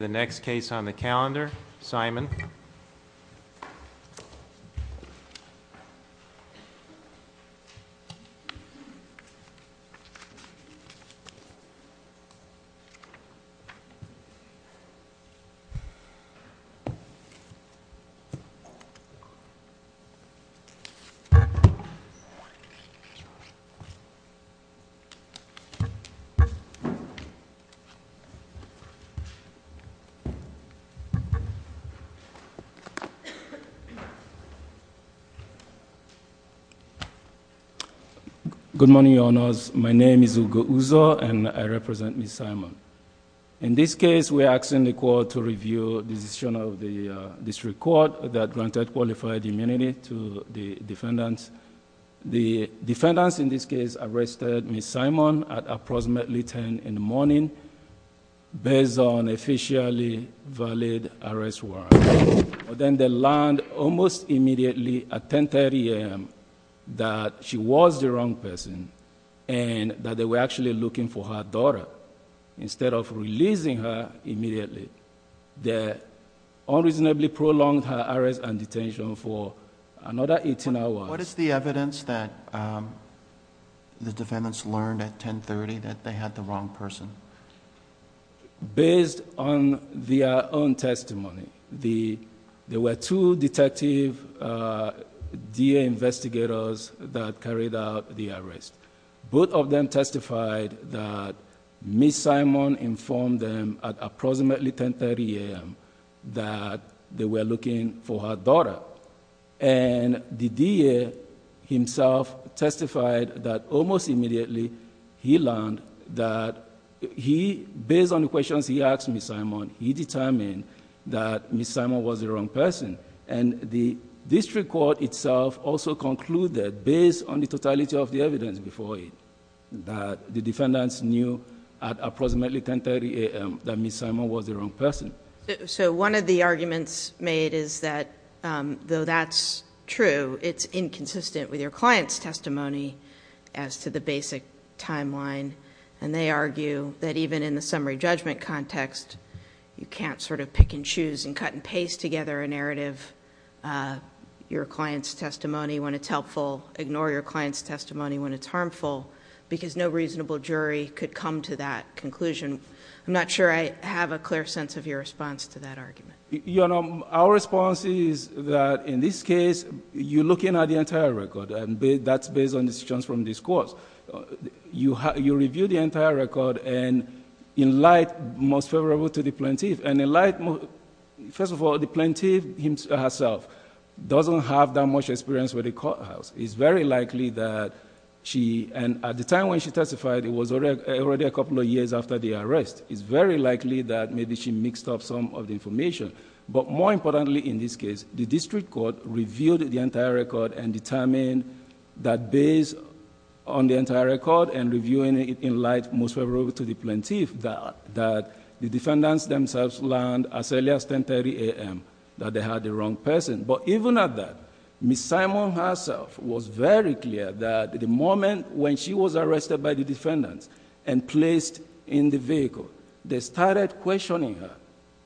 The next case on the calendar, Simon. Good morning, Your Honors. My name is Ugo Uzo, and I represent Ms. Simon. In this case, we are asking the Court to review the decision of the District Court that granted qualified immunity to the defendants. The defendants in this case arrested Ms. Simon at approximately ten in the morning, based on officially valid arrest warrant. Then they learned almost immediately at 10.30 a.m. that she was the wrong person, and that they were actually looking for her daughter. Instead of releasing her immediately, they unreasonably prolonged her arrest and detention for another eighteen hours. What is the evidence that the defendants learned at 10.30 that they had the wrong person? Based on their own testimony, there were two detective DA investigators that carried out the arrest. Both of them testified that Ms. Simon informed them at approximately 10.30 a.m. that they were looking for her daughter. The DA himself testified that almost immediately he learned that based on the questions he asked Ms. Simon, he determined that Ms. Simon was the wrong person. The District Court itself also concluded, based on the totality of the evidence before it, that the defendants knew at approximately 10.30 a.m. that Ms. Simon was the wrong person. One of the arguments made is that, though that's true, it's inconsistent with your client's testimony as to the basic timeline. They argue that even in the summary judgment context, you can't pick and choose and cut and paste together a narrative, your client's testimony when it's helpful, ignore your client's testimony when it's harmful, because no reasonable jury could come to that conclusion. I'm not sure I have a clear sense of your response to that argument. Our response is that, in this case, you're looking at the entire record, and that's based on decisions from this court. You review the entire record and, in light, most favorable to the plaintiff. First of all, the plaintiff herself doesn't have that much experience with the courthouse. It's very likely that she... At the time when she testified, it was already a couple of years after the arrest. It's very likely that maybe she mixed up some of the information. More importantly, in this case, the district court reviewed the entire record and determined that, based on the entire record and reviewing it in light most favorable to the plaintiff, that the defendants themselves learned as early as 10.30 a.m. that they had the wrong person. Even at that, Ms. Simon herself was very clear that the moment when she was arrested by the defendants and placed in the vehicle, they started questioning her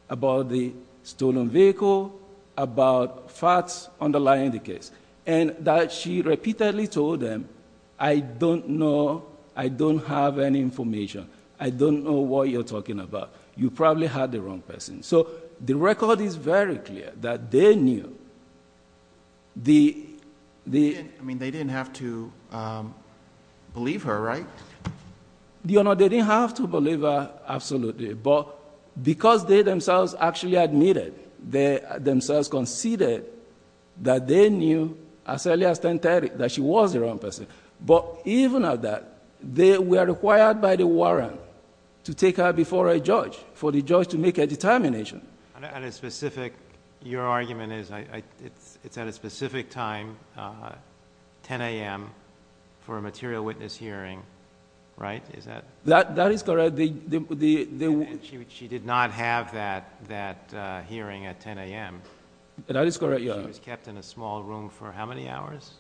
about the stolen vehicle, about facts underlying the case, and that she repeatedly told them, I don't know. I don't have any information. I don't know what you're talking about. You probably had the wrong person. The record is very clear that they knew... They didn't have to believe her, right? They didn't have to believe her, absolutely, but because they themselves actually admitted, themselves conceded that they knew as early as 10.30 that she was the wrong person. Even at that, they were required by the warrant to take her before a judge, for the judge to make a determination. Your argument is it's at a specific time, 10 a.m., for a material witness hearing, right? Is that... That is correct. She did not have that hearing at 10 a.m. That is correct, Your Honor. She was kept in a small room for how many hours?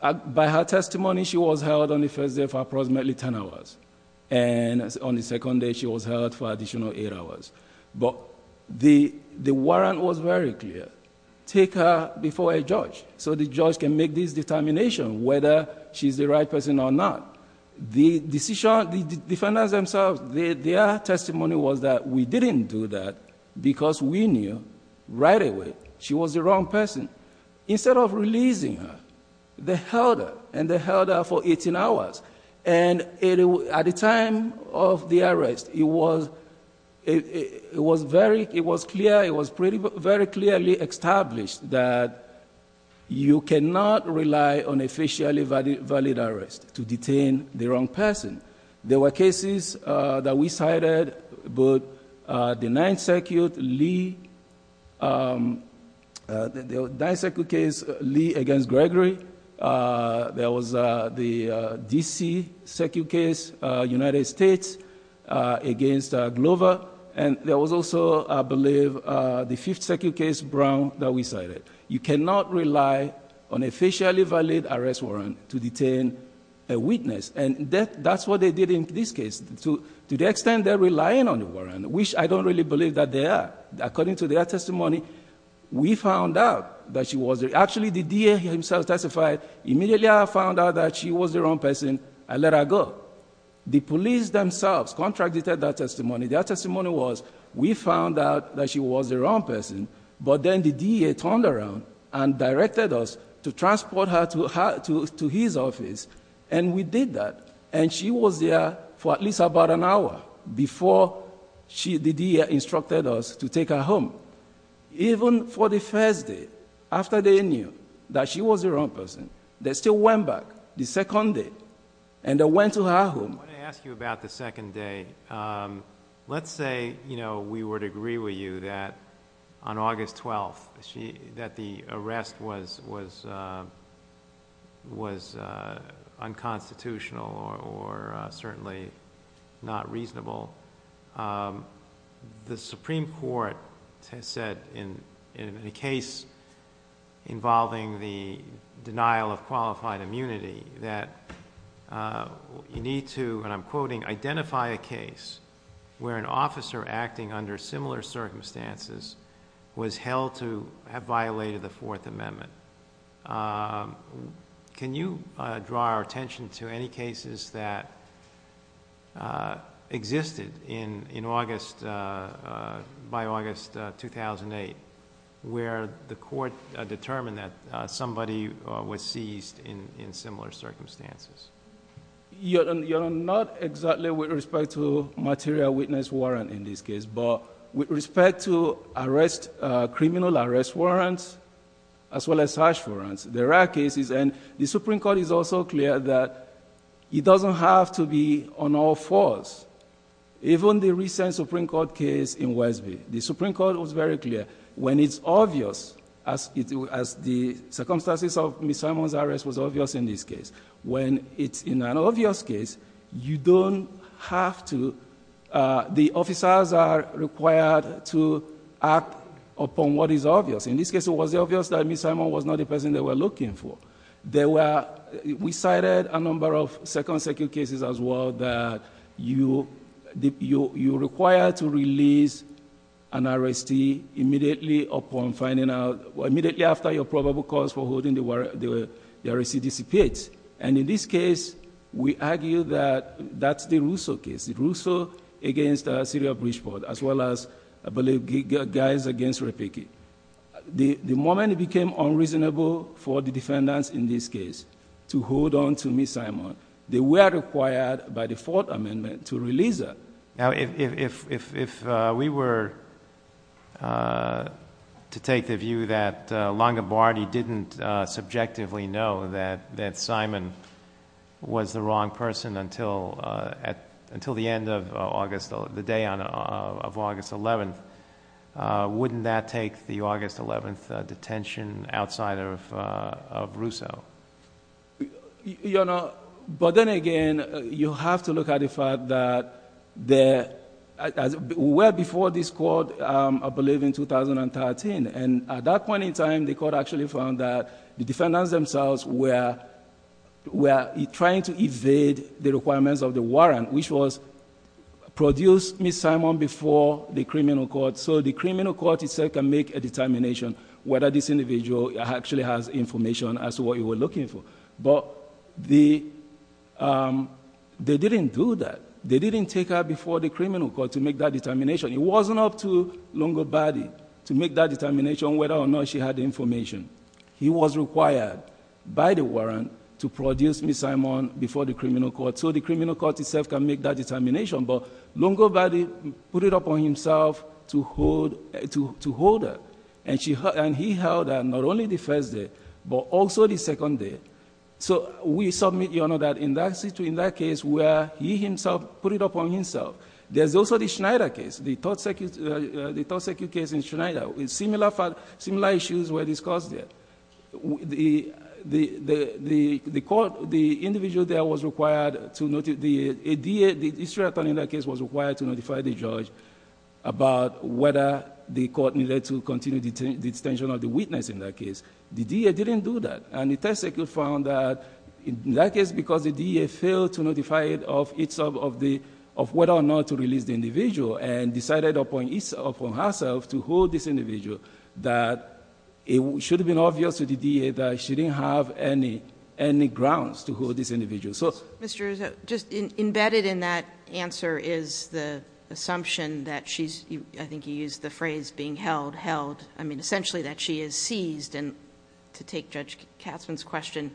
By her testimony, she was held on the first day for approximately 10 hours, and on the second day, the warrant was very clear, take her before a judge so the judge can make this determination whether she's the right person or not. The defendants themselves, their testimony was that we didn't do that because we knew right away she was the wrong person. Instead of releasing her, they held her, and they held her for 18 hours. At the time of the hearing, it was very clearly established that you cannot rely on officially valid arrest to detain the wrong person. There were cases that we cited, the Ninth Circuit case, Lee against Gregory. There was the D.C. Circuit case, United States against Glover, and there was also, I believe, the Fifth Circuit case, Brown, that we cited. You cannot rely on officially valid arrest warrant to detain a witness, and that's what they did in this case. To the extent they're relying on the warrant, which I don't really believe that they are, according to their testimony, we found out that she was... that she was the wrong person and let her go. The police themselves contracted that testimony. Their testimony was we found out that she was the wrong person, but then the D.E.A. turned around and directed us to transport her to his office, and we did that, and she was there for at least about an hour before she... the D.E.A. instructed us to take her home. Even for the first day, after they knew that she was the wrong person, they still went back the second day, and they went to her home. I want to ask you about the second day. Let's say we would agree with you that on August 4th, 2012, the Supreme Court said in a case involving the denial of qualified immunity that you need to, and I'm quoting, identify a case where an officer acting under similar circumstances was held to have violated the Fourth Amendment. Can you draw our attention to any cases that existed in August... by August 2008, where the court determined that somebody was seized in similar circumstances? Your Honor, not exactly with respect to material witness warrant in this case, but with respect to criminal arrest warrants, as well as harsh warrants, there are cases, and the Supreme Court is also clear that it doesn't have to be on all fours. Even the recent Supreme Court case in Westby, the Supreme Court was very clear. When it's obvious, as the circumstances of Ms. Simon's arrest was obvious in this case, when it's in an obvious case, you don't have to... the officers are required to act upon what is obvious. In this case, it was obvious that Ms. Simon was not the person they were looking for. We cited a number of second circuit cases, as well, that you require to release an arrestee immediately upon finding out... immediately after your arrest. In this case, we argue that that's the Russo case, the Russo against Syria Bridgeport, as well as, I believe, Geiser against Repicci. The moment it became unreasonable for the defendants in this case to hold on to Ms. Simon, they were required by the Fourth Amendment to release her. Now, if we were to take the view that Lange-Boerdi didn't subjectively know that Ms. Simon was the wrong person until the day of August 11th, wouldn't that take the August 11th detention outside of Russo? You know, but then again, you have to look at the fact that, well before this court, I believe in 2013, and at that point in time, the court actually found that the defendants themselves were trying to evade the requirements of the warrant, which was produce Ms. Simon before the criminal court so the criminal court itself can make a determination whether this individual actually has information as to what you were looking for, but they didn't do that. They didn't take her before the criminal court to make that determination. It wasn't up to Lange-Boerdi to make that determination whether or not she had the information. He was required by the warrant to produce Ms. Simon before the criminal court so the criminal court itself can make that determination, but Lange-Boerdi put it up on himself to hold her, and he held her not only the first day, but also the second day. So we submit, Your Honor, that in that case where he himself put it up on himself, there's also the Schneider case, the third circuit case in Schneider. Similar issues were discussed there. The individual there was required to notify the judge about whether the court needed to continue the detention of the witness in that case. The DA didn't do that, and the test circuit found that in that case, because the DA failed to notify of whether or not to release the individual and decided up on herself to hold this individual, that it should have been obvious to the DA that she didn't have any grounds to hold this individual, so... Judge Fischer. Mr. Uzo, just embedded in that answer is the assumption that she's... I think you used the phrase being held, held. I mean, essentially that she is seized, and to take Judge Katzmann's question,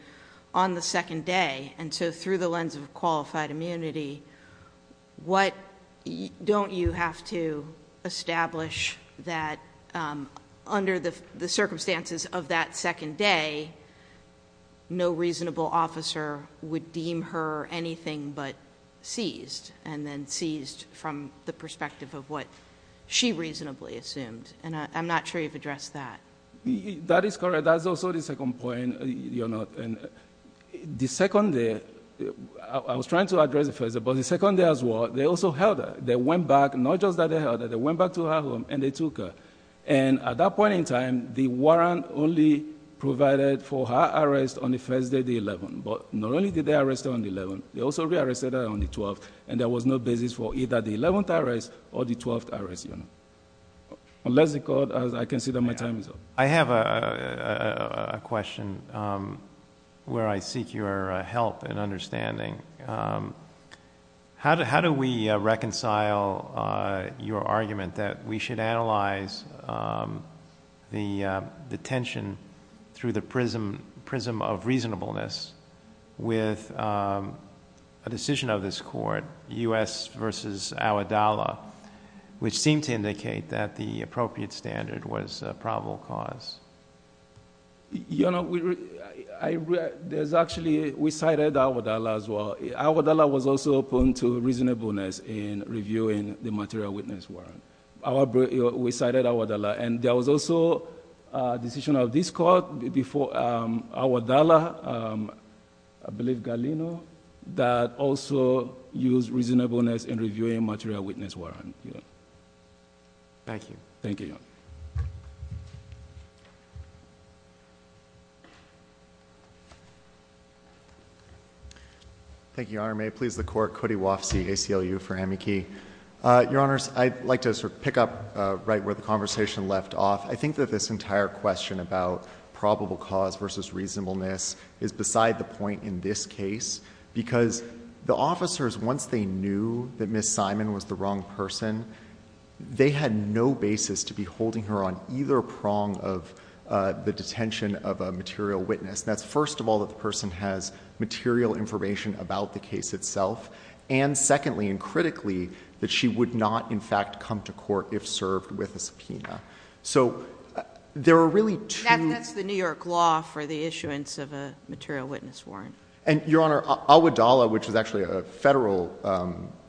on the second day, and so through the lens of qualified immunity, don't you have to establish that under the circumstances of that second day, no reasonable officer would deem her anything but seized, and then seized from the perspective of what she reasonably assumed? I'm not sure you've addressed that. That is correct. That's also the second point, Your Honor. The second day, I was trying to address the first day, but the second day as well, they also held her. They went back, not just that they held her, they went back to her home and they took her. At that point in time, the warrant only provided for her arrest on the first day, the 11th, but not only did they arrest her on the 11th, they also re-arrested her on the 12th, and there was no basis for either the 11th arrest or the 12th arrest, Your Honor. Unless the court, as I consider my time is up. I have a question where I seek your help and understanding. How do we reconcile your argument that we should analyze the detention through the prism of reasonableness with a decision of this court, U.S. v. Awadala, which seemed to indicate that the appropriate standard was a probable cause? Your Honor, we cited Awadala as well. Awadala was also open to reasonableness in reviewing the material witness warrant. We cited Awadala, and there was also a decision of this court before Awadala, I believe Galeno, that also used reasonableness in reviewing material witness warrant. Thank you, Your Honor. Thank you, Your Honor. May it please the court, Cody Wofsy, ACLU for Amici. Your Honors, I'd like to sort of pick up right where the conversation left off. I think that this entire question about probable cause versus reasonableness is beside the point in this case, because the officers, once they knew that Ms. Simon was the wrong person, they had no basis to be holding her on either prong of the detention of a material witness. That's first of all that the person has material information about the case itself, and secondly and critically, that she would not, in fact, come to court if served with a subpoena. So there are really two— And that's the New York law for the issuance of a material witness warrant. And Your Honor, Awadala, which is actually a federal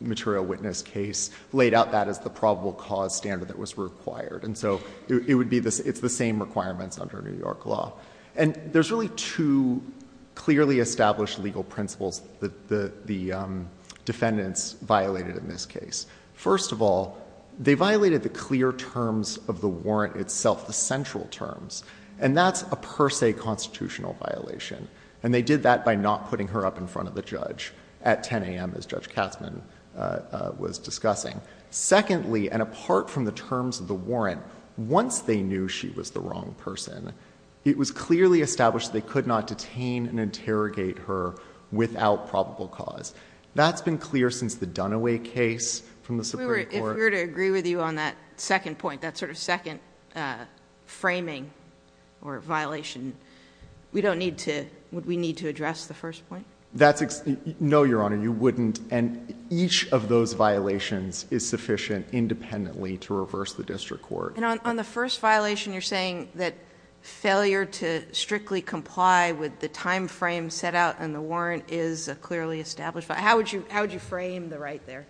material witness case, laid out that as the probable cause standard that was required. And so it's the same requirements under New York law. And there's really two clearly established legal principles that the defendants violated in this case. First of all, they violated the clear terms of the warrant itself, the central terms. And that's a per se constitutional violation. And they did that by not putting her up in front of the judge at 10 a.m., as Judge Katzmann was discussing. Secondly, and apart from the terms of the warrant, once they knew she was the wrong person, it was clearly established they could not detain and interrogate her without probable cause. That's been clear since the Dunaway case from the Supreme Court. If we were to agree with you on that second point, that sort of second framing or violation, we don't need to—would we need to address the first point? That's—no, Your Honor, you wouldn't. And each of those violations is sufficient independently to reverse the district court. And on the first violation, you're saying that failure to strictly comply with the timeframe set out in the warrant is a clearly established—how would you frame the right there?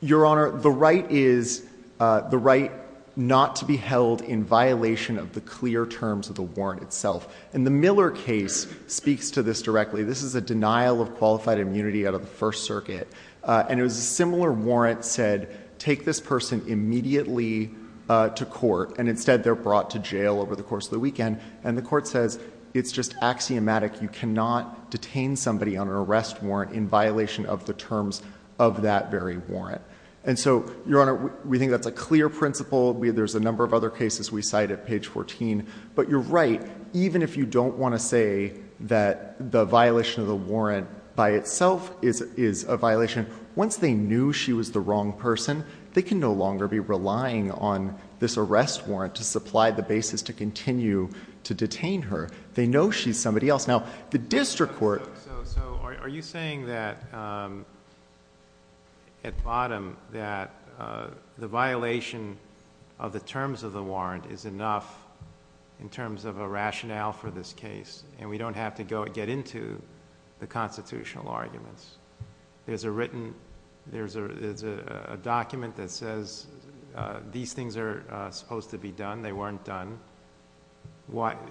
Your Honor, the right is the right not to be held in violation of the clear terms of the warrant itself. And the Miller case speaks to this directly. This is a denial of qualified immunity out of the First Circuit. And it was a similar warrant said, take this person immediately to court. And instead, they're brought to jail over the course of the weekend. And the court says, it's just axiomatic. You cannot detain somebody on an arrest warrant in violation of the terms of that very warrant. And so, Your Honor, we think that's a clear principle. There's a number of other cases we cite at page 14. But you're right. Even if you don't want to say that the violation of the warrant by itself is a violation, once they knew she was the wrong person, they can no longer be relying on this arrest warrant to supply the basis to continue to detain her. They know she's somebody else. Now, the district court— So, are you saying that, at bottom, that the violation of the terms of the warrant is enough in terms of a rationale for this case, and we don't have to get into the constitutional arguments? There's a written—there's a document that says these things are supposed to be done. They weren't done.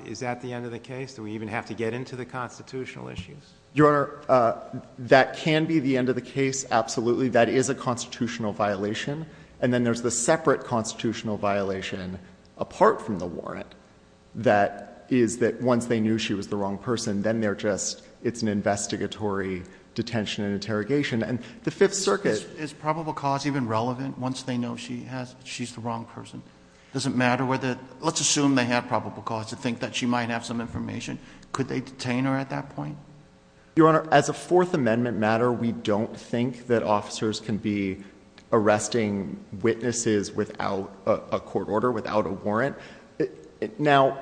Is that the end of the case? Do we even have to get into the constitutional issues? Your Honor, that can be the end of the case, absolutely. That is a constitutional violation. And then there's the separate constitutional violation, apart from the warrant, that is that once they knew she was the wrong person, then they're just—it's an investigatory detention and interrogation. And the Fifth Circuit— Is probable cause even relevant, once they know she has—she's the wrong person? Does it matter whether—let's assume they have probable cause to think that she might have some information. Could they detain her at that point? Your Honor, as a Fourth Amendment matter, we don't think that officers can be arresting a court order without a warrant. Now,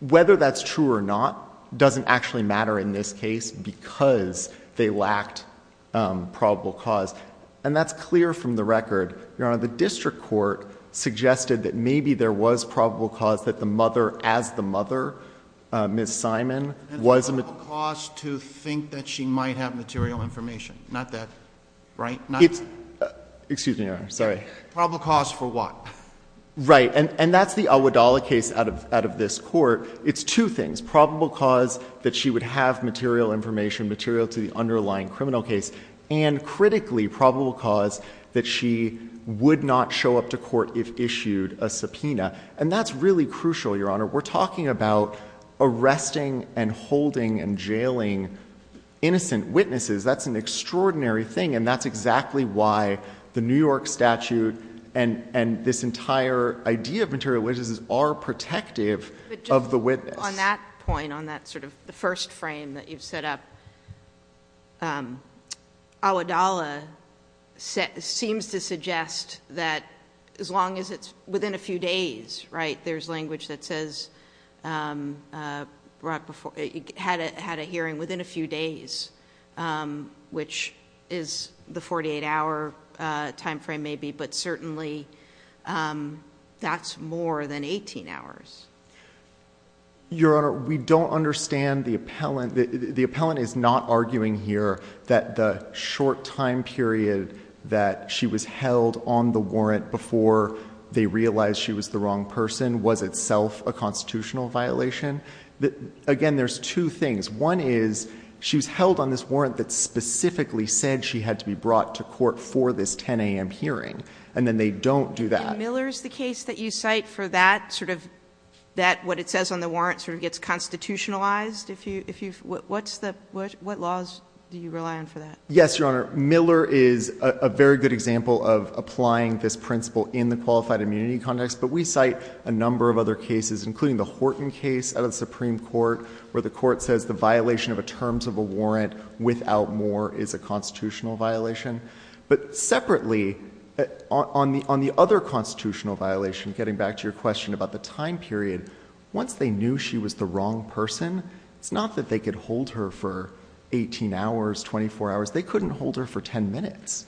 whether that's true or not doesn't actually matter in this case, because they lacked probable cause. And that's clear from the record. Your Honor, the district court suggested that maybe there was probable cause that the mother as the mother, Ms. Simon, was— And probable cause to think that she might have material information. Not that—right? It's—excuse me, Your Honor. Sorry. Probable cause for what? Right. And that's the Awadallah case out of this court. It's two things. Probable cause that she would have material information, material to the underlying criminal case. And critically, probable cause that she would not show up to court if issued a subpoena. And that's really crucial, Your Honor. We're talking about arresting and holding and jailing innocent witnesses. That's an extraordinary thing. And that's exactly why the New York statute and this entire idea of material witnesses are protective of the witness. On that point, on that sort of the first frame that you've set up, Awadallah seems to suggest that as long as it's within a few days, right? There's language that says, had a hearing within a few days, which is the 48-hour time frame maybe, but certainly that's more than 18 hours. Your Honor, we don't understand the appellant. The appellant is not arguing here that the short time period that she was held on the warrant before they realized she was the wrong person was itself a constitutional violation. Again, there's two things. One is, she was held on this warrant that specifically said she had to be brought to court for this 10 a.m. hearing. And then they don't do that. And Miller is the case that you cite for that sort of, that what it says on the warrant sort of gets constitutionalized? If you, if you, what's the, what, what laws do you rely on for that? Yes, Your Honor. Miller is a very good example of applying this principle in the qualified immunity context, but we cite a number of other cases, including the Horton case out of the Supreme Court, where the court says the violation of a terms of a warrant without more is a constitutional violation. But separately, on the, on the other constitutional violation, getting back to your question about the time period, once they knew she was the wrong person, it's not that they could hold her for 18 hours, 24 hours. They couldn't hold her for 10 minutes.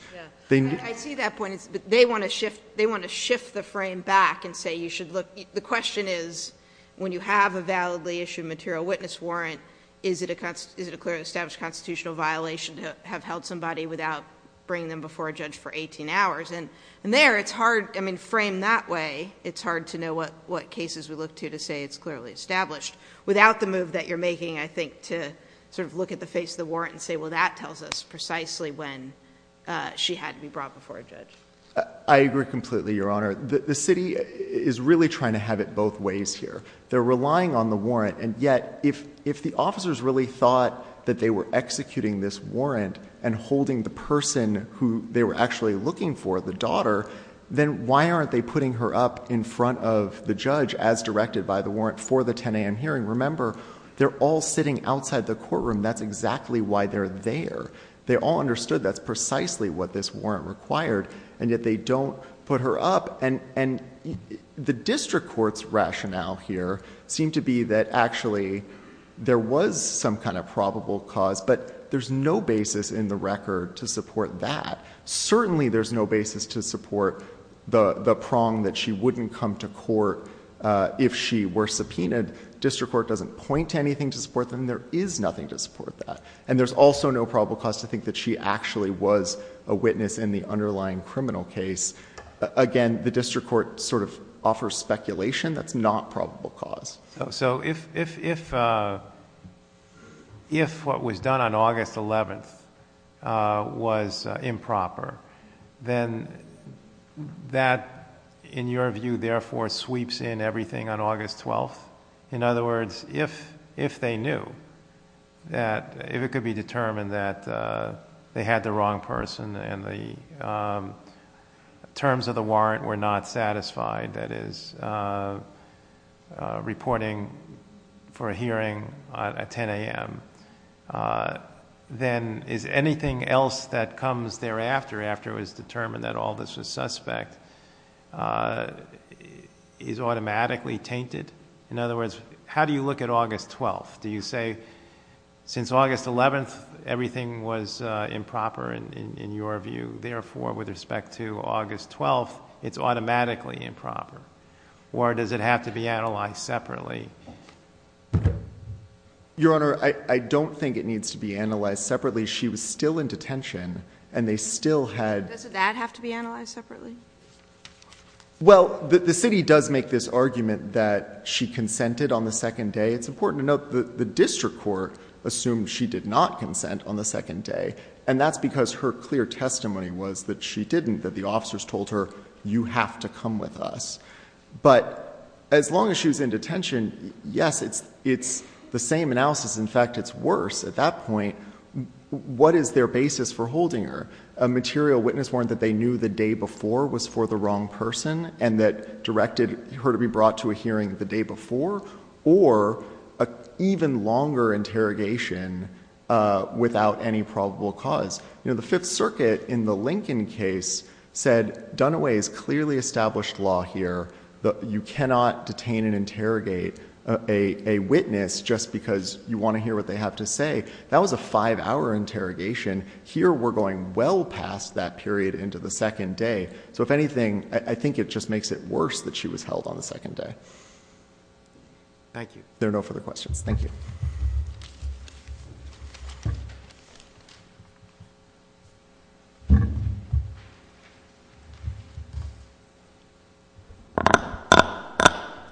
I see that point. They want to shift, they want to shift the frame back and say, you should look, the question is, when you have a validly issued material witness warrant, is it a, is it a clearly established constitutional violation to have held somebody without bringing them before a judge for 18 hours? And, and there, it's hard, I mean, framed that way, it's hard to know what, what cases we look to to say it's clearly established. Without the move that you're making, I think, to sort of look at the face of the warrant and say, well, that tells us precisely when she had to be brought before a judge. I agree completely, Your Honor. The, the city is really trying to have it both ways here. They're relying on the warrant. And yet, if, if the officers really thought that they were executing this warrant and holding the person who they were actually looking for, the daughter, then why aren't they putting her up in front of the judge as directed by the warrant for the 10 a.m. hearing? Remember, they're all sitting outside the courtroom. That's exactly why they're there. They all understood that's precisely what this warrant required, and yet they don't put her up. And, and the district court's rationale here seemed to be that actually there was some kind of probable cause, but there's no basis in the record to support that. Certainly, there's no basis to support the, the prong that she wouldn't come to court if she were subpoenaed. District court doesn't point to anything to support that, and there is nothing to support that. And there's also no probable cause to think that she actually was a witness in the underlying criminal case. Again, the district court sort of offers speculation. That's not probable cause. So if, if, if, uh, if what was done on August 11th, uh, was improper, then that, in your opinion, that if it could be determined that, uh, they had the wrong person and the, um, terms of the warrant were not satisfied, that is, uh, uh, reporting for a hearing at, at 10 a.m., uh, then is anything else that comes thereafter, after it was determined that Aldis was suspect, uh, is automatically tainted? In other words, how do you look at August 12th? Do you say, since August 11th, everything was, uh, improper in, in, in your view, therefore, with respect to August 12th, it's automatically improper? Or does it have to be analyzed separately? Your Honor, I, I don't think it needs to be analyzed separately. She was still in detention and they still had... Doesn't that have to be analyzed separately? Well, the, the city does make this argument that she consented on the second day. It's important to note that the district court assumed she did not consent on the second day and that's because her clear testimony was that she didn't, that the officers told her, you have to come with us. But as long as she was in detention, yes, it's, it's the same analysis. In fact, it's worse. At that point, what is their basis for holding her? A material witness warrant that they knew the day before was for the wrong person and that directed her to be brought to a hearing the day before or a even longer interrogation, uh, without any probable cause. You know, the Fifth Circuit in the Lincoln case said Dunaway's clearly established law here that you cannot detain and interrogate a, a witness just because you want to hear what they have to say. That was a five hour interrogation. Here we're going well past that period into the second day. So if anything, I think it just makes it worse that she was held on the second day. Thank you. There are no further questions. Thank you.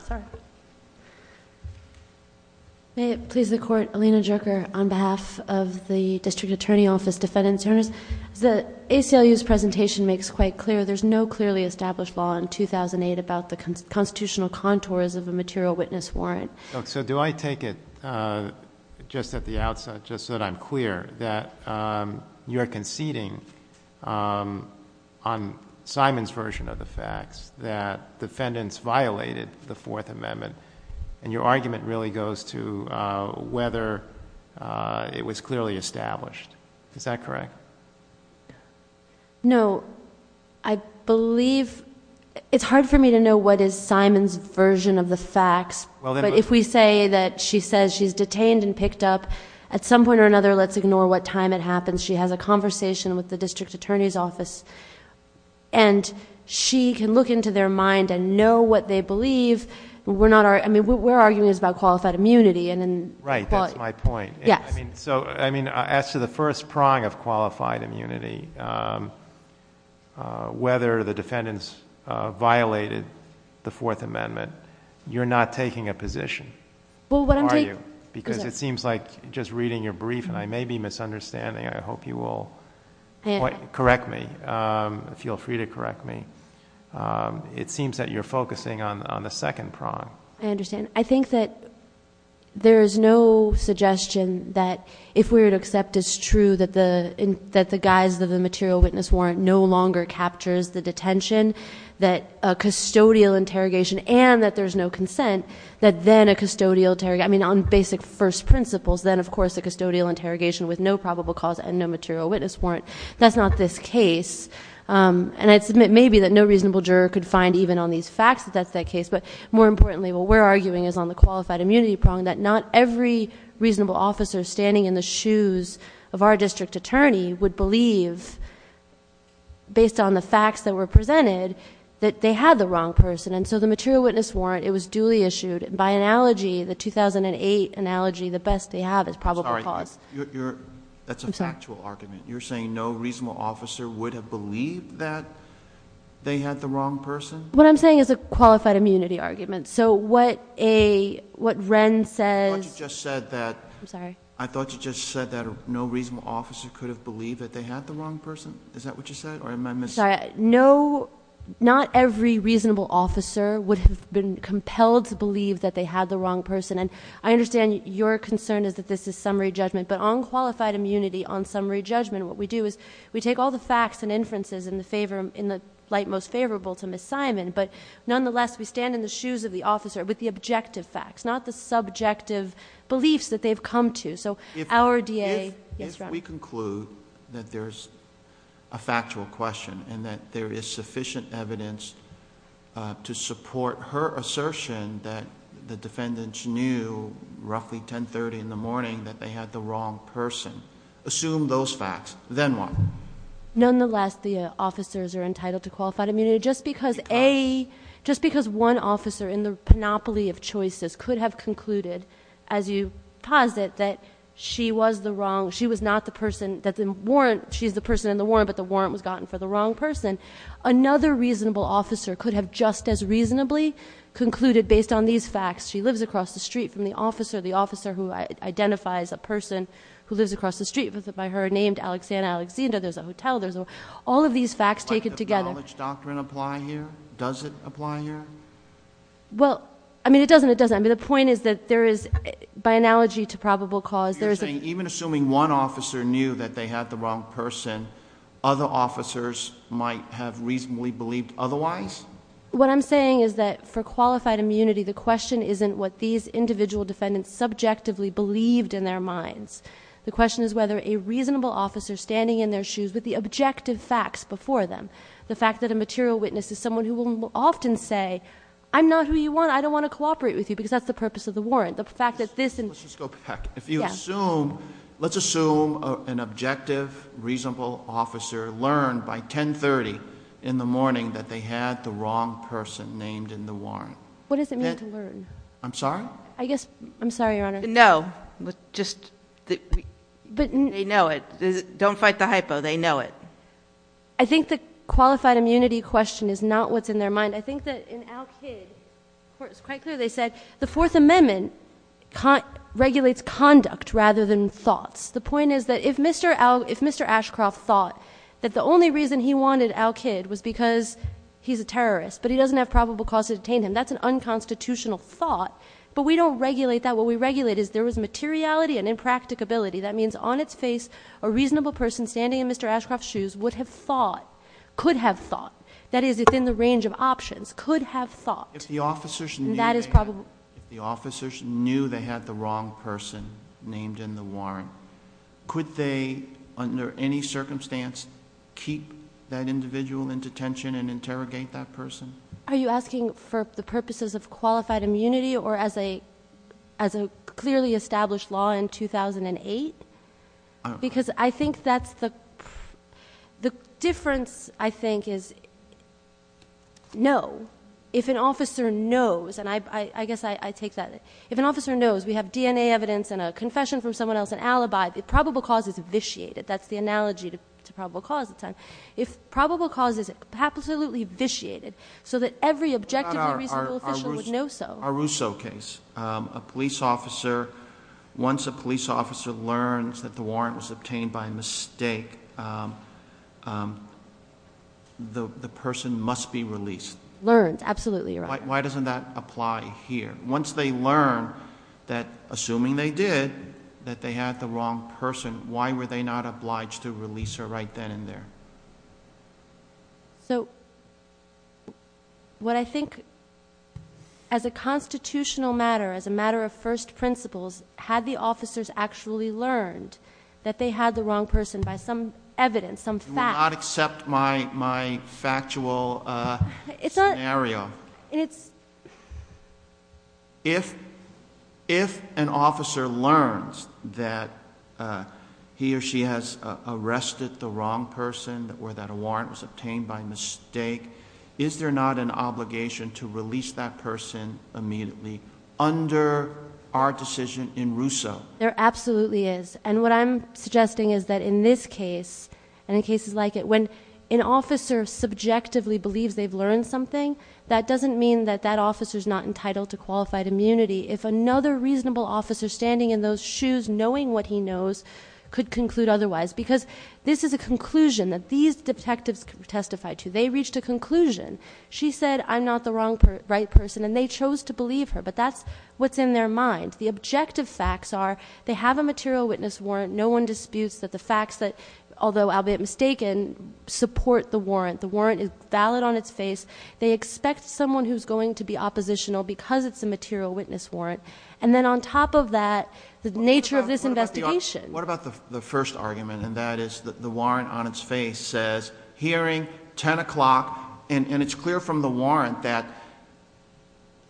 Sorry. May it please the court. Alina Jerker on behalf of the district attorney office defendant's attorneys. The ACLU's presentation makes quite clear there's no clearly established law in 2008 about the constitutional contours of a material witness warrant. So do I take it, uh, just at the outset, just so that I'm clear that, um, you're conceding, um, on Simon's version of the facts that defendants violated the fourth amendment and your argument really goes to, uh, whether, uh, it was clearly established. Is that correct? No, I believe it's hard for me to know what is Simon's version of the facts, but if we say that she says she's detained and picked up at some point or another, let's ignore what time it happens. She has a conversation with the district attorney's office and she can look into their mind and know what they believe. We're not our, I mean, we're arguing is about qualified immunity and, and right. That's my point. I mean, so, I mean, as to the first prong of qualified immunity, um, uh, whether the defendants, uh, violated the fourth amendment, you're not taking a position, are you? Because it seems like just reading your brief and I may be misunderstanding. I hope you will correct me. Um, feel free to correct me. Um, it seems that you're focusing on, on the second prong. I understand. I think that there is no suggestion that if we were to accept it's true that the, that the guise of the material witness warrant no longer captures the detention, that a custodial interrogation and that there's no consent, that then a custodial interrogation, I mean, on basic first principles, then of course the custodial interrogation with no probable cause and no material witness warrant. That's not this case. Um, and I'd submit maybe that no reasonable juror could find even on these facts that that's that case. But more importantly, what we're arguing is on the qualified immunity prong that not every reasonable officer standing in the shoes of our district attorney would believe based on the facts that were presented that they had the wrong person. And so the material witness warrant, it was duly issued by analogy, the 2008 analogy, the best they have is probable cause. Sorry, you're, that's a factual argument. You're saying no reasonable officer would have believed that they had the wrong person. What I'm saying is a qualified immunity argument. So what a, what Wren says, you just said that, I'm sorry, I thought you just said that no reasonable officer could have believed that they had the wrong person. Is that what you said? Or am I missing? No, not every reasonable officer would have been compelled to believe that they had the wrong person. And I understand your concern is that this is summary judgment, but on qualified immunity, on summary judgment, what we do is we take all the facts and inferences in the favor, in the light most favorable to Ms. Simon, but nonetheless, we stand in the shoes of the officer with the objective facts, not the subjective beliefs that they've come to. So our DA... If, if we conclude that there's a factual question and that there is sufficient evidence to support her assertion that the defendants knew roughly 1030 in the morning that they had the wrong person, assume those facts, then what? Nonetheless, the officers are entitled to qualified immunity just because a, just because one officer in the panoply of choices could have concluded, as you posit, that she was the wrong, she was not the person that the warrant, she's the person in the warrant, but the warrant was gotten for the wrong person. Another reasonable officer could have just as reasonably concluded based on these facts, she lives across the street from the officer, the officer who identifies a person who lives across the street by her name, Alexandra Alexander, there's a hotel, there's a... All of these facts taken together... But does the knowledge doctrine apply here? Does it apply here? Well, I mean, it doesn't, it doesn't. I mean, the point is that there is, by analogy to probable cause, there is a... So you're saying even assuming one officer knew that they had the wrong person, other officers might have reasonably believed otherwise? What I'm saying is that for qualified immunity, the question isn't what these individual defendants subjectively believed in their minds. The question is whether a reasonable officer standing in their shoes with the objective facts before them, the fact that a material witness is someone who will often say, I'm not who you want, I don't want to cooperate with you, because that's the purpose of the warrant. The fact that this... Let's just go back. If you assume, let's assume an objective, reasonable officer learned by 10.30 in the morning that they had the wrong person named in the warrant. What does it mean to learn? I'm sorry? I guess... I'm sorry, Your Honor. No. Just... they know it. Don't fight the hypo. They know it. I think the qualified immunity question is not what's in their mind. I think that in Al Kidd, it's quite clear they said the Fourth Amendment regulates conduct rather than thoughts. The point is that if Mr. Ashcroft thought that the only reason he wanted Al Kidd was because he's a terrorist, but he doesn't have probable cause to detain him, that's an unconstitutional thought, but we don't regulate that. What we regulate is there was materiality and impracticability. That means on its face, a reasonable person standing in Mr. Ashcroft's shoes would have thought, could have thought, that is, within the range of options, could have thought... If the officers knew they had the wrong person named in the warrant, could they, under any circumstance, keep that individual in detention and interrogate that person? Are you asking for the purposes of qualified immunity or as a clearly established law in 2008? Because I think that's the... the difference, I think, is no. If an officer knows, and I guess I take that... if an officer knows we have DNA evidence and a confession from someone else, an alibi, the probable cause is vitiated. That's the analogy to So that every objectively reasonable official would know so. Our Russo case, a police officer, once a police officer learns that the warrant was obtained by mistake, the person must be released. Learned, absolutely right. Why doesn't that apply here? Once they learn that, assuming they did, that they had the wrong person, why were they not obliged to release her right then and there? So, what I think, as a constitutional matter, as a matter of first principles, had the officers actually learned that they had the wrong person by some evidence, some fact... You will not accept my factual scenario. It's... was obtained by mistake. Is there not an obligation to release that person immediately under our decision in Russo? There absolutely is. And what I'm suggesting is that in this case, and in cases like it, when an officer subjectively believes they've learned something, that doesn't mean that that officer is not entitled to qualified immunity. If another reasonable officer standing in those shoes, knowing what he knows, could conclude otherwise, because this is a conclusion that these detectives testified to. They reached a conclusion. She said, I'm not the right person, and they chose to believe her. But that's what's in their mind. The objective facts are, they have a material witness warrant. No one disputes that the facts that, although albeit mistaken, support the warrant. The warrant is valid on its face. They expect someone who's going to be oppositional because it's a material witness warrant. And then on top of that, the nature of this investigation... hearing, 10 o'clock, and it's clear from the warrant that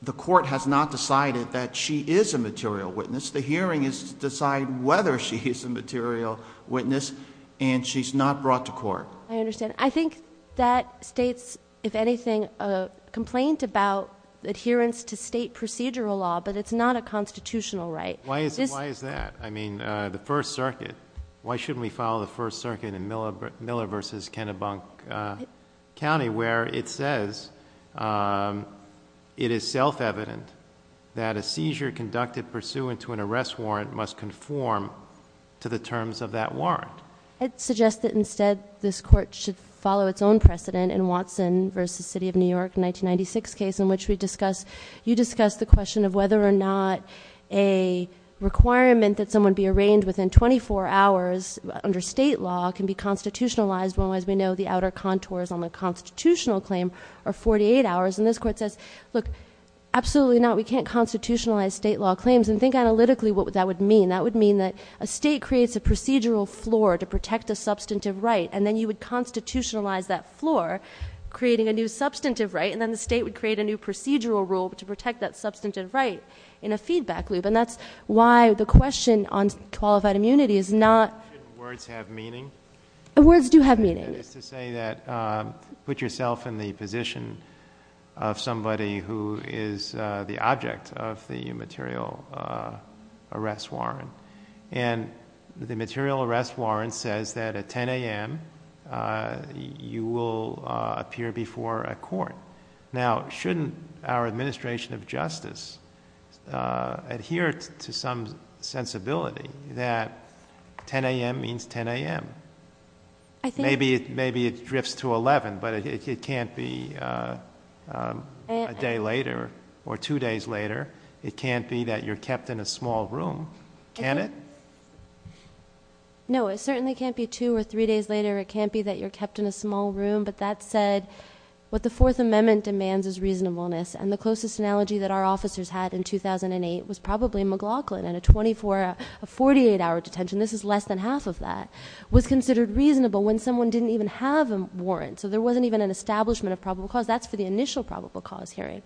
the court has not decided that she is a material witness. The hearing is to decide whether she is a material witness, and she's not brought to court. I understand. I think that states, if anything, a complaint about adherence to state procedural law, but it's not a constitutional right. Why is that? I mean, the First Circuit, why shouldn't we follow the First Circuit in Miller v. Kennebunk County, where it says, it is self-evident that a seizure conducted pursuant to an arrest warrant must conform to the terms of that warrant? It suggests that instead, this court should follow its own precedent in Watson v. City of New York, 1996 case, in which we discuss... you discuss the question of whether or not a requirement that someone be arraigned within 24 hours under state law can be constitutionalized when, as we know, the outer contours on the constitutional claim are 48 hours. And this court says, look, absolutely not. We can't constitutionalize state law claims. And think analytically what that would mean. That would mean that a state creates a procedural floor to protect a substantive right, and then you would constitutionalize that floor, creating a new substantive right, and then the state would create a new procedural rule to protect that substantive right in a feedback loop. And that's why the question on qualified immunity is not... Shouldn't words have meaning? Words do have meaning. That is to say that, put yourself in the position of somebody who is the object of the material arrest warrant, says that at 10 a.m. you will appear before a court. Now, shouldn't our administration of justice adhere to some sensibility that 10 a.m. means 10 a.m.? I think... Maybe it drifts to 11, but it can't be a day later or two days later. It can't be that you're kept in a small room, can it? No, it certainly can't be two or three days later. It can't be that you're kept in a small room. But that said, what the Fourth Amendment demands is reasonableness. And the closest analogy that our officers had in 2008 was probably McLaughlin in a 48-hour detention. This is less than half of that. It was considered reasonable when someone didn't even have a warrant. So there wasn't even an establishment of probable cause. That's for the initial analogy.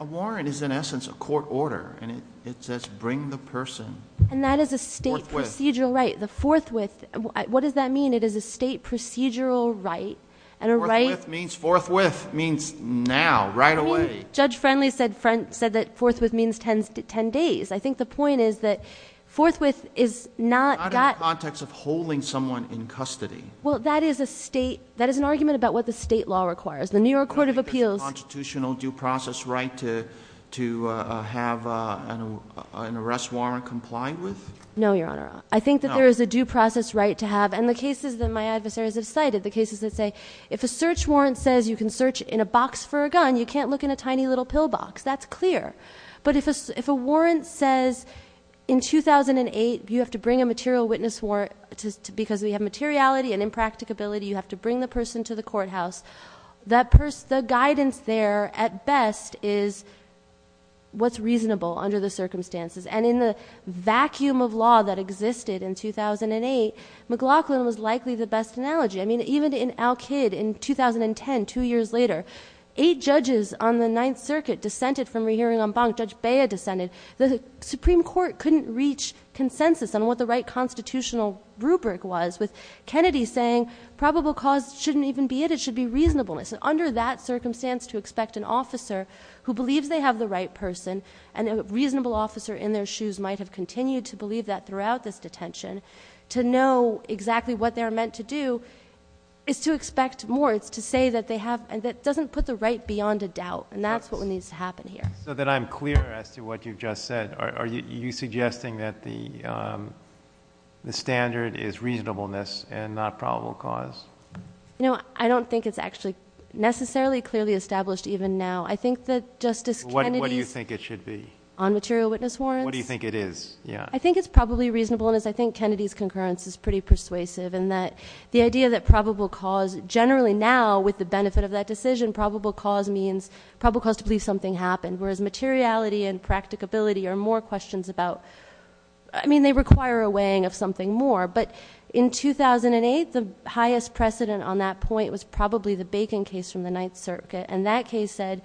A warrant is, in essence, a court order. And it says, bring the person forthwith. And that is a state procedural right. The forthwith, what does that mean? It is a state procedural right. And a right... Forthwith means now, right away. Judge Friendly said that forthwith means 10 days. I think the point is that forthwith is not... Not in the context of holding someone in custody. Well, that is a state... that is an argument about what the state law requires. The New York Court of Appeals... Is there a due process right to have an arrest warrant complied with? No, Your Honor. No. I think that there is a due process right to have. And the cases that my adversaries have cited, the cases that say, if a search warrant says you can search in a box for a gun, you can't look in a tiny little pillbox. That's clear. But if a warrant says, in 2008, you have to bring a material witness warrant because we have materiality and impracticability. You have to bring the person to the courthouse. The guidance there, at best, is what's reasonable under the circumstances. And in the vacuum of law that existed in 2008, McLaughlin was likely the best analogy. I mean, even in Al-Kid in 2010, two years later, eight judges on the Ninth Circuit dissented from rehearing en banc. Judge Bea dissented. The Supreme Court couldn't reach consensus on what the right constitutional rubric was with Kennedy saying probable cause shouldn't even be it. It should be reasonableness. And under that circumstance, to expect an officer who believes they have the right person, and a reasonable officer in their shoes might have continued to believe that throughout this detention, to know exactly what they are meant to do, is to expect more. It's to say that they have and that doesn't put the right beyond a doubt. And that's what needs to happen here. So that I'm clear as to what you've just said, are you suggesting that the standard is reasonableness and not probable cause? You know, I don't think it's actually necessarily clearly established even now. I think that Justice Kennedy's... What do you think it should be? On material witness warrants? What do you think it is? Yeah. I think it's probably reasonableness. I think Kennedy's concurrence is pretty persuasive in that the idea that probable cause generally now, with the benefit of that decision, probable cause means probable cause to believe something happened. Whereas materiality and practicability are more questions about... I mean, they require a weighing of something more. But in 2008, the highest precedent on that point was probably the Bacon case from the Ninth Circuit. And that case said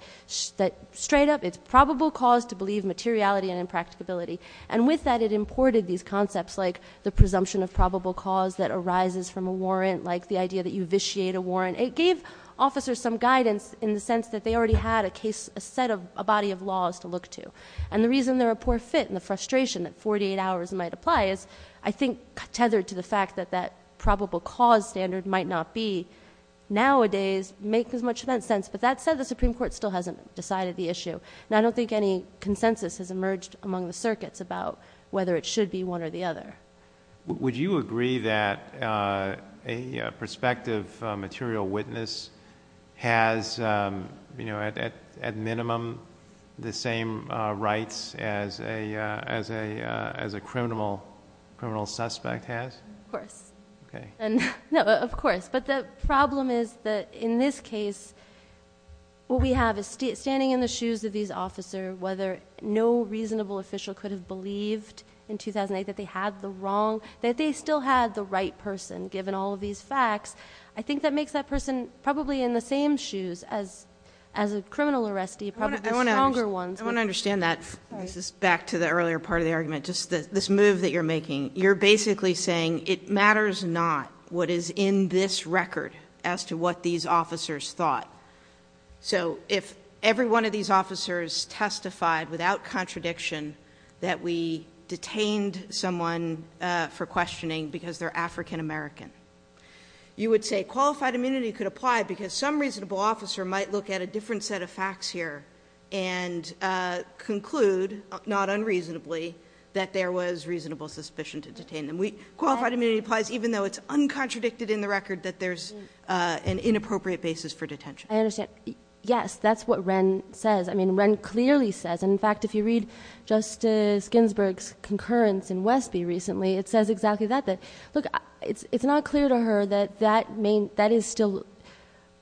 that straight up, it's probable cause to believe materiality and impracticability. And with that, it imported these concepts like the presumption of probable cause that arises from a warrant, like the idea that you vitiate a warrant. It gave officers some guidance in the sense that they already had a case, a set of, a body of laws to look to. And the reason they're a poor fit and the frustration that 48 hours might apply is, I think, tethered to the fact that that probable cause standard might not be, nowadays, make as much sense. But that said, the Supreme Court still hasn't decided the issue. And I don't think any consensus has emerged among the circuits about whether it should be one or the other. Would you agree that a prospective material witness has, at minimum, the same rights as a criminal suspect has? Of course. Okay. No, of course. But the problem is that, in this case, what we have is, standing in the shoes of these officers, whether no reasonable official could have believed in 2008 that they had the wrong, that they still had the right person, given all of these facts, I think that makes that person probably in the same shoes as a criminal arrestee, probably the stronger ones. I want to understand that. This is back to the earlier part of the argument. Just this move that you're making. You're basically saying, it matters not what is in this record as to what these officers thought. So if every one of these officers testified, without contradiction, that we detained someone for questioning because they're African American, you would say qualified immunity could apply because some reasonable officer might look at a different set of facts here and conclude, not unreasonably, that there was reasonable suspicion to detain them. Qualified immunity applies even though it's uncontradicted in the record that there's an inappropriate basis for detention. I understand. Yes, that's what Wren says. I mean, Wren clearly says, and in fact, if you read Justice Ginsburg's concurrence in Westby recently, it says exactly that. Look, it's not clear to her that that is still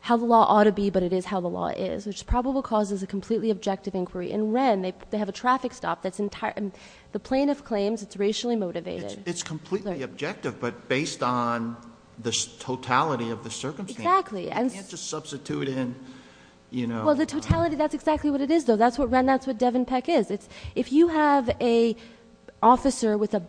how the law ought to be, but it is how the law is, which probably causes a completely objective inquiry. In Wren, they have a traffic stop that's entirely... the plaintiff claims it's racially motivated. It's completely objective, but based on the totality of the circumstance, you can't just substitute in... Well, the totality, that's exactly what it is, though. That's what Devon Peck is. If you have an officer with a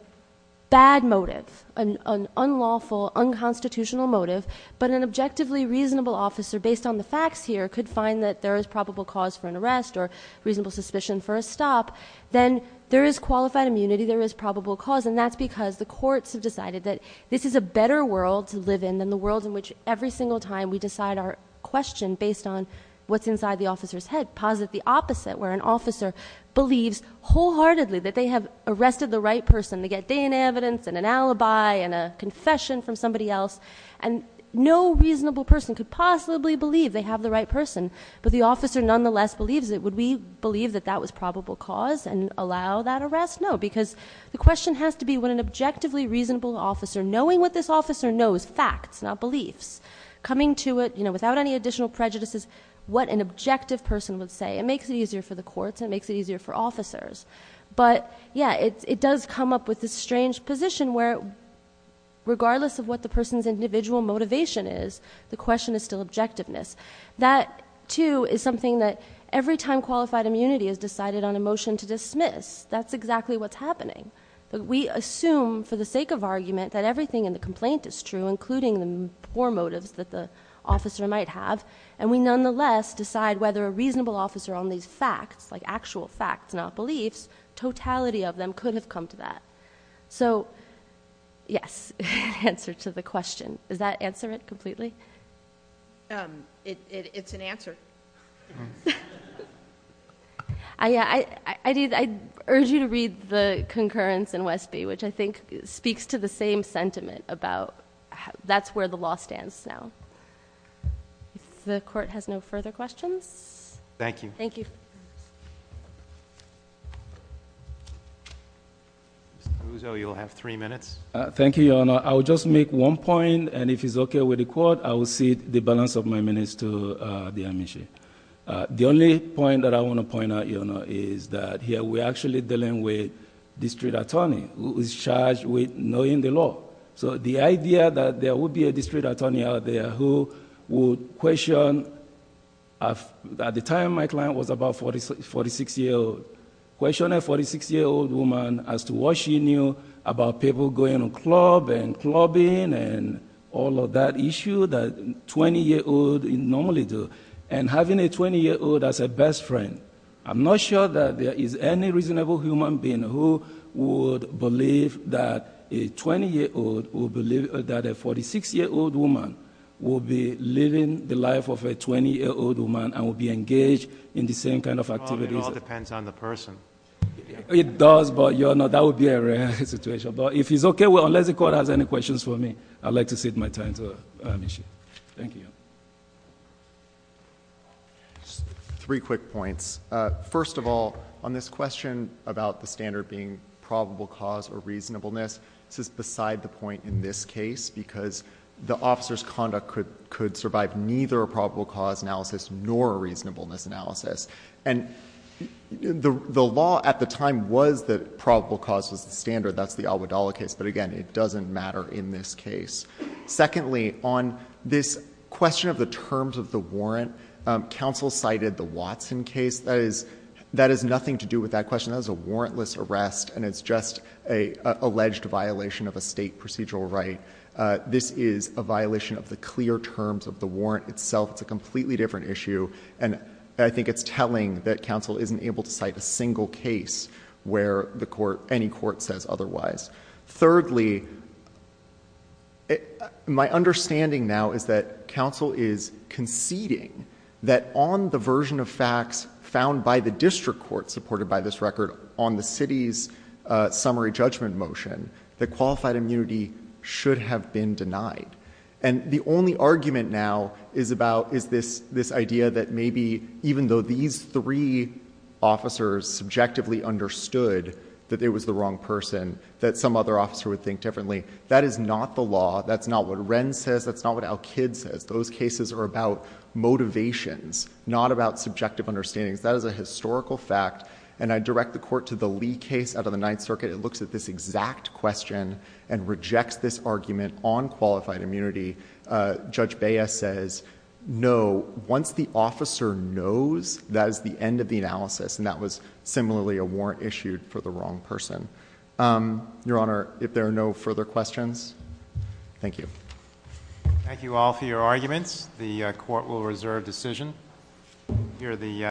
bad motive, an unlawful, unconstitutional motive, but an objectively reasonable officer, based on the facts here, could find that there is probable cause for an arrest or reasonable suspicion for a stop, then there is qualified immunity, there is probable cause, and that's because the courts have decided that this is a better world to live in than the world in which every single time we decide our question based on what's inside the officer's head. Posit the opposite, where an officer believes wholeheartedly that they have arrested the right person. They get day in evidence and an alibi and a confession from somebody else, and no reasonable person could possibly believe they have the right person, but the officer nonetheless believes it. Would we believe that that was probable cause and allow that arrest? No, because the question has to be, would an objectively reasonable officer, knowing what this officer knows, facts, not beliefs, coming to it without any additional prejudices, what an objective person would say. It makes it easier for the courts, it makes it easier for officers, but yeah, it does come up with this strange position where regardless of what the person's individual motivation is, the question is still objectiveness. That, too, is something that every time qualified immunity is decided on a motion to dismiss, that's exactly what's happening. We assume, for the sake of argument, that everything in the complaint is true, including the poor motives that the officer might have, and we nonetheless decide whether a reasonable officer on these facts, like actual facts, not beliefs, totality of them could have come to that. So, yes, answer to the question. Does that answer it completely? It's an answer. I urge you to read the concurrence in Westby, which I think speaks to the same sentiment about that's where the law stands now. If the court has no further questions? Thank you. Thank you. Mr. Muzo, you'll have three minutes. Thank you, Your Honor. I'll just make one point, and if it's okay with the court, I will cede the balance of my minutes to the amnesia. The only point that I want to point out, Your Honor, is that here we're actually dealing with district attorney who is charged with knowing the law. The idea that there would be a district attorney out there who would question... at the time my client was about forty-six year old, question a forty-six year old woman as to what she knew about people going to club and clubbing and all of that issue that twenty year old normally do. And having a twenty year old as a best friend, I'm not sure that there is any reasonable human being who would believe that a twenty year old would believe that a forty-six year old woman would be living the life of a twenty year old woman and would be engaged in the same kind of activities... It does, but Your Honor, that would be a rare situation. But if it's okay, unless the court has any questions for me, I'd like to cede my time to amnesia. Thank you, Your Honor. Three quick points. First of all, on this question about the standard being probable cause or reasonableness, this is beside the point in this case because the officer's conduct could survive neither a probable cause analysis nor a reasonableness analysis. The law at the time was that probable cause was the standard. That's the Almodovar case, but again, it doesn't matter in this case. Secondly, on this question of the terms of the warrant, counsel cited the Watson case. That is nothing to do with that question. That was a warrantless arrest and it's just an alleged violation of a State procedural right. This is a violation of the clear terms of the warrant itself. It's a completely different issue and I think it's telling that counsel isn't able to cite a single case where the court, any court says otherwise. Thirdly, my understanding now is that counsel is conceding that on the version of facts found by the district court supported by this record on the city's summary judgment motion, that qualified immunity should have been denied. And the only argument now is about, is this idea that maybe even though these three officers subjectively understood that it was the wrong person, that some other officer would think differently. That is not the law. That's not what Wren says. That's not what Alkid says. Those cases are about motivations, not about subjective understandings. That is a historical fact and I direct the court to the Lee case out of the Ninth Circuit. It looks at this exact question and rejects this argument on the basis that once the officer knows, that is the end of the analysis and that was similarly a warrant issued for the wrong person. Your Honor, if there are no further questions. Thank you. Thank you all for your arguments. The court will reserve decision.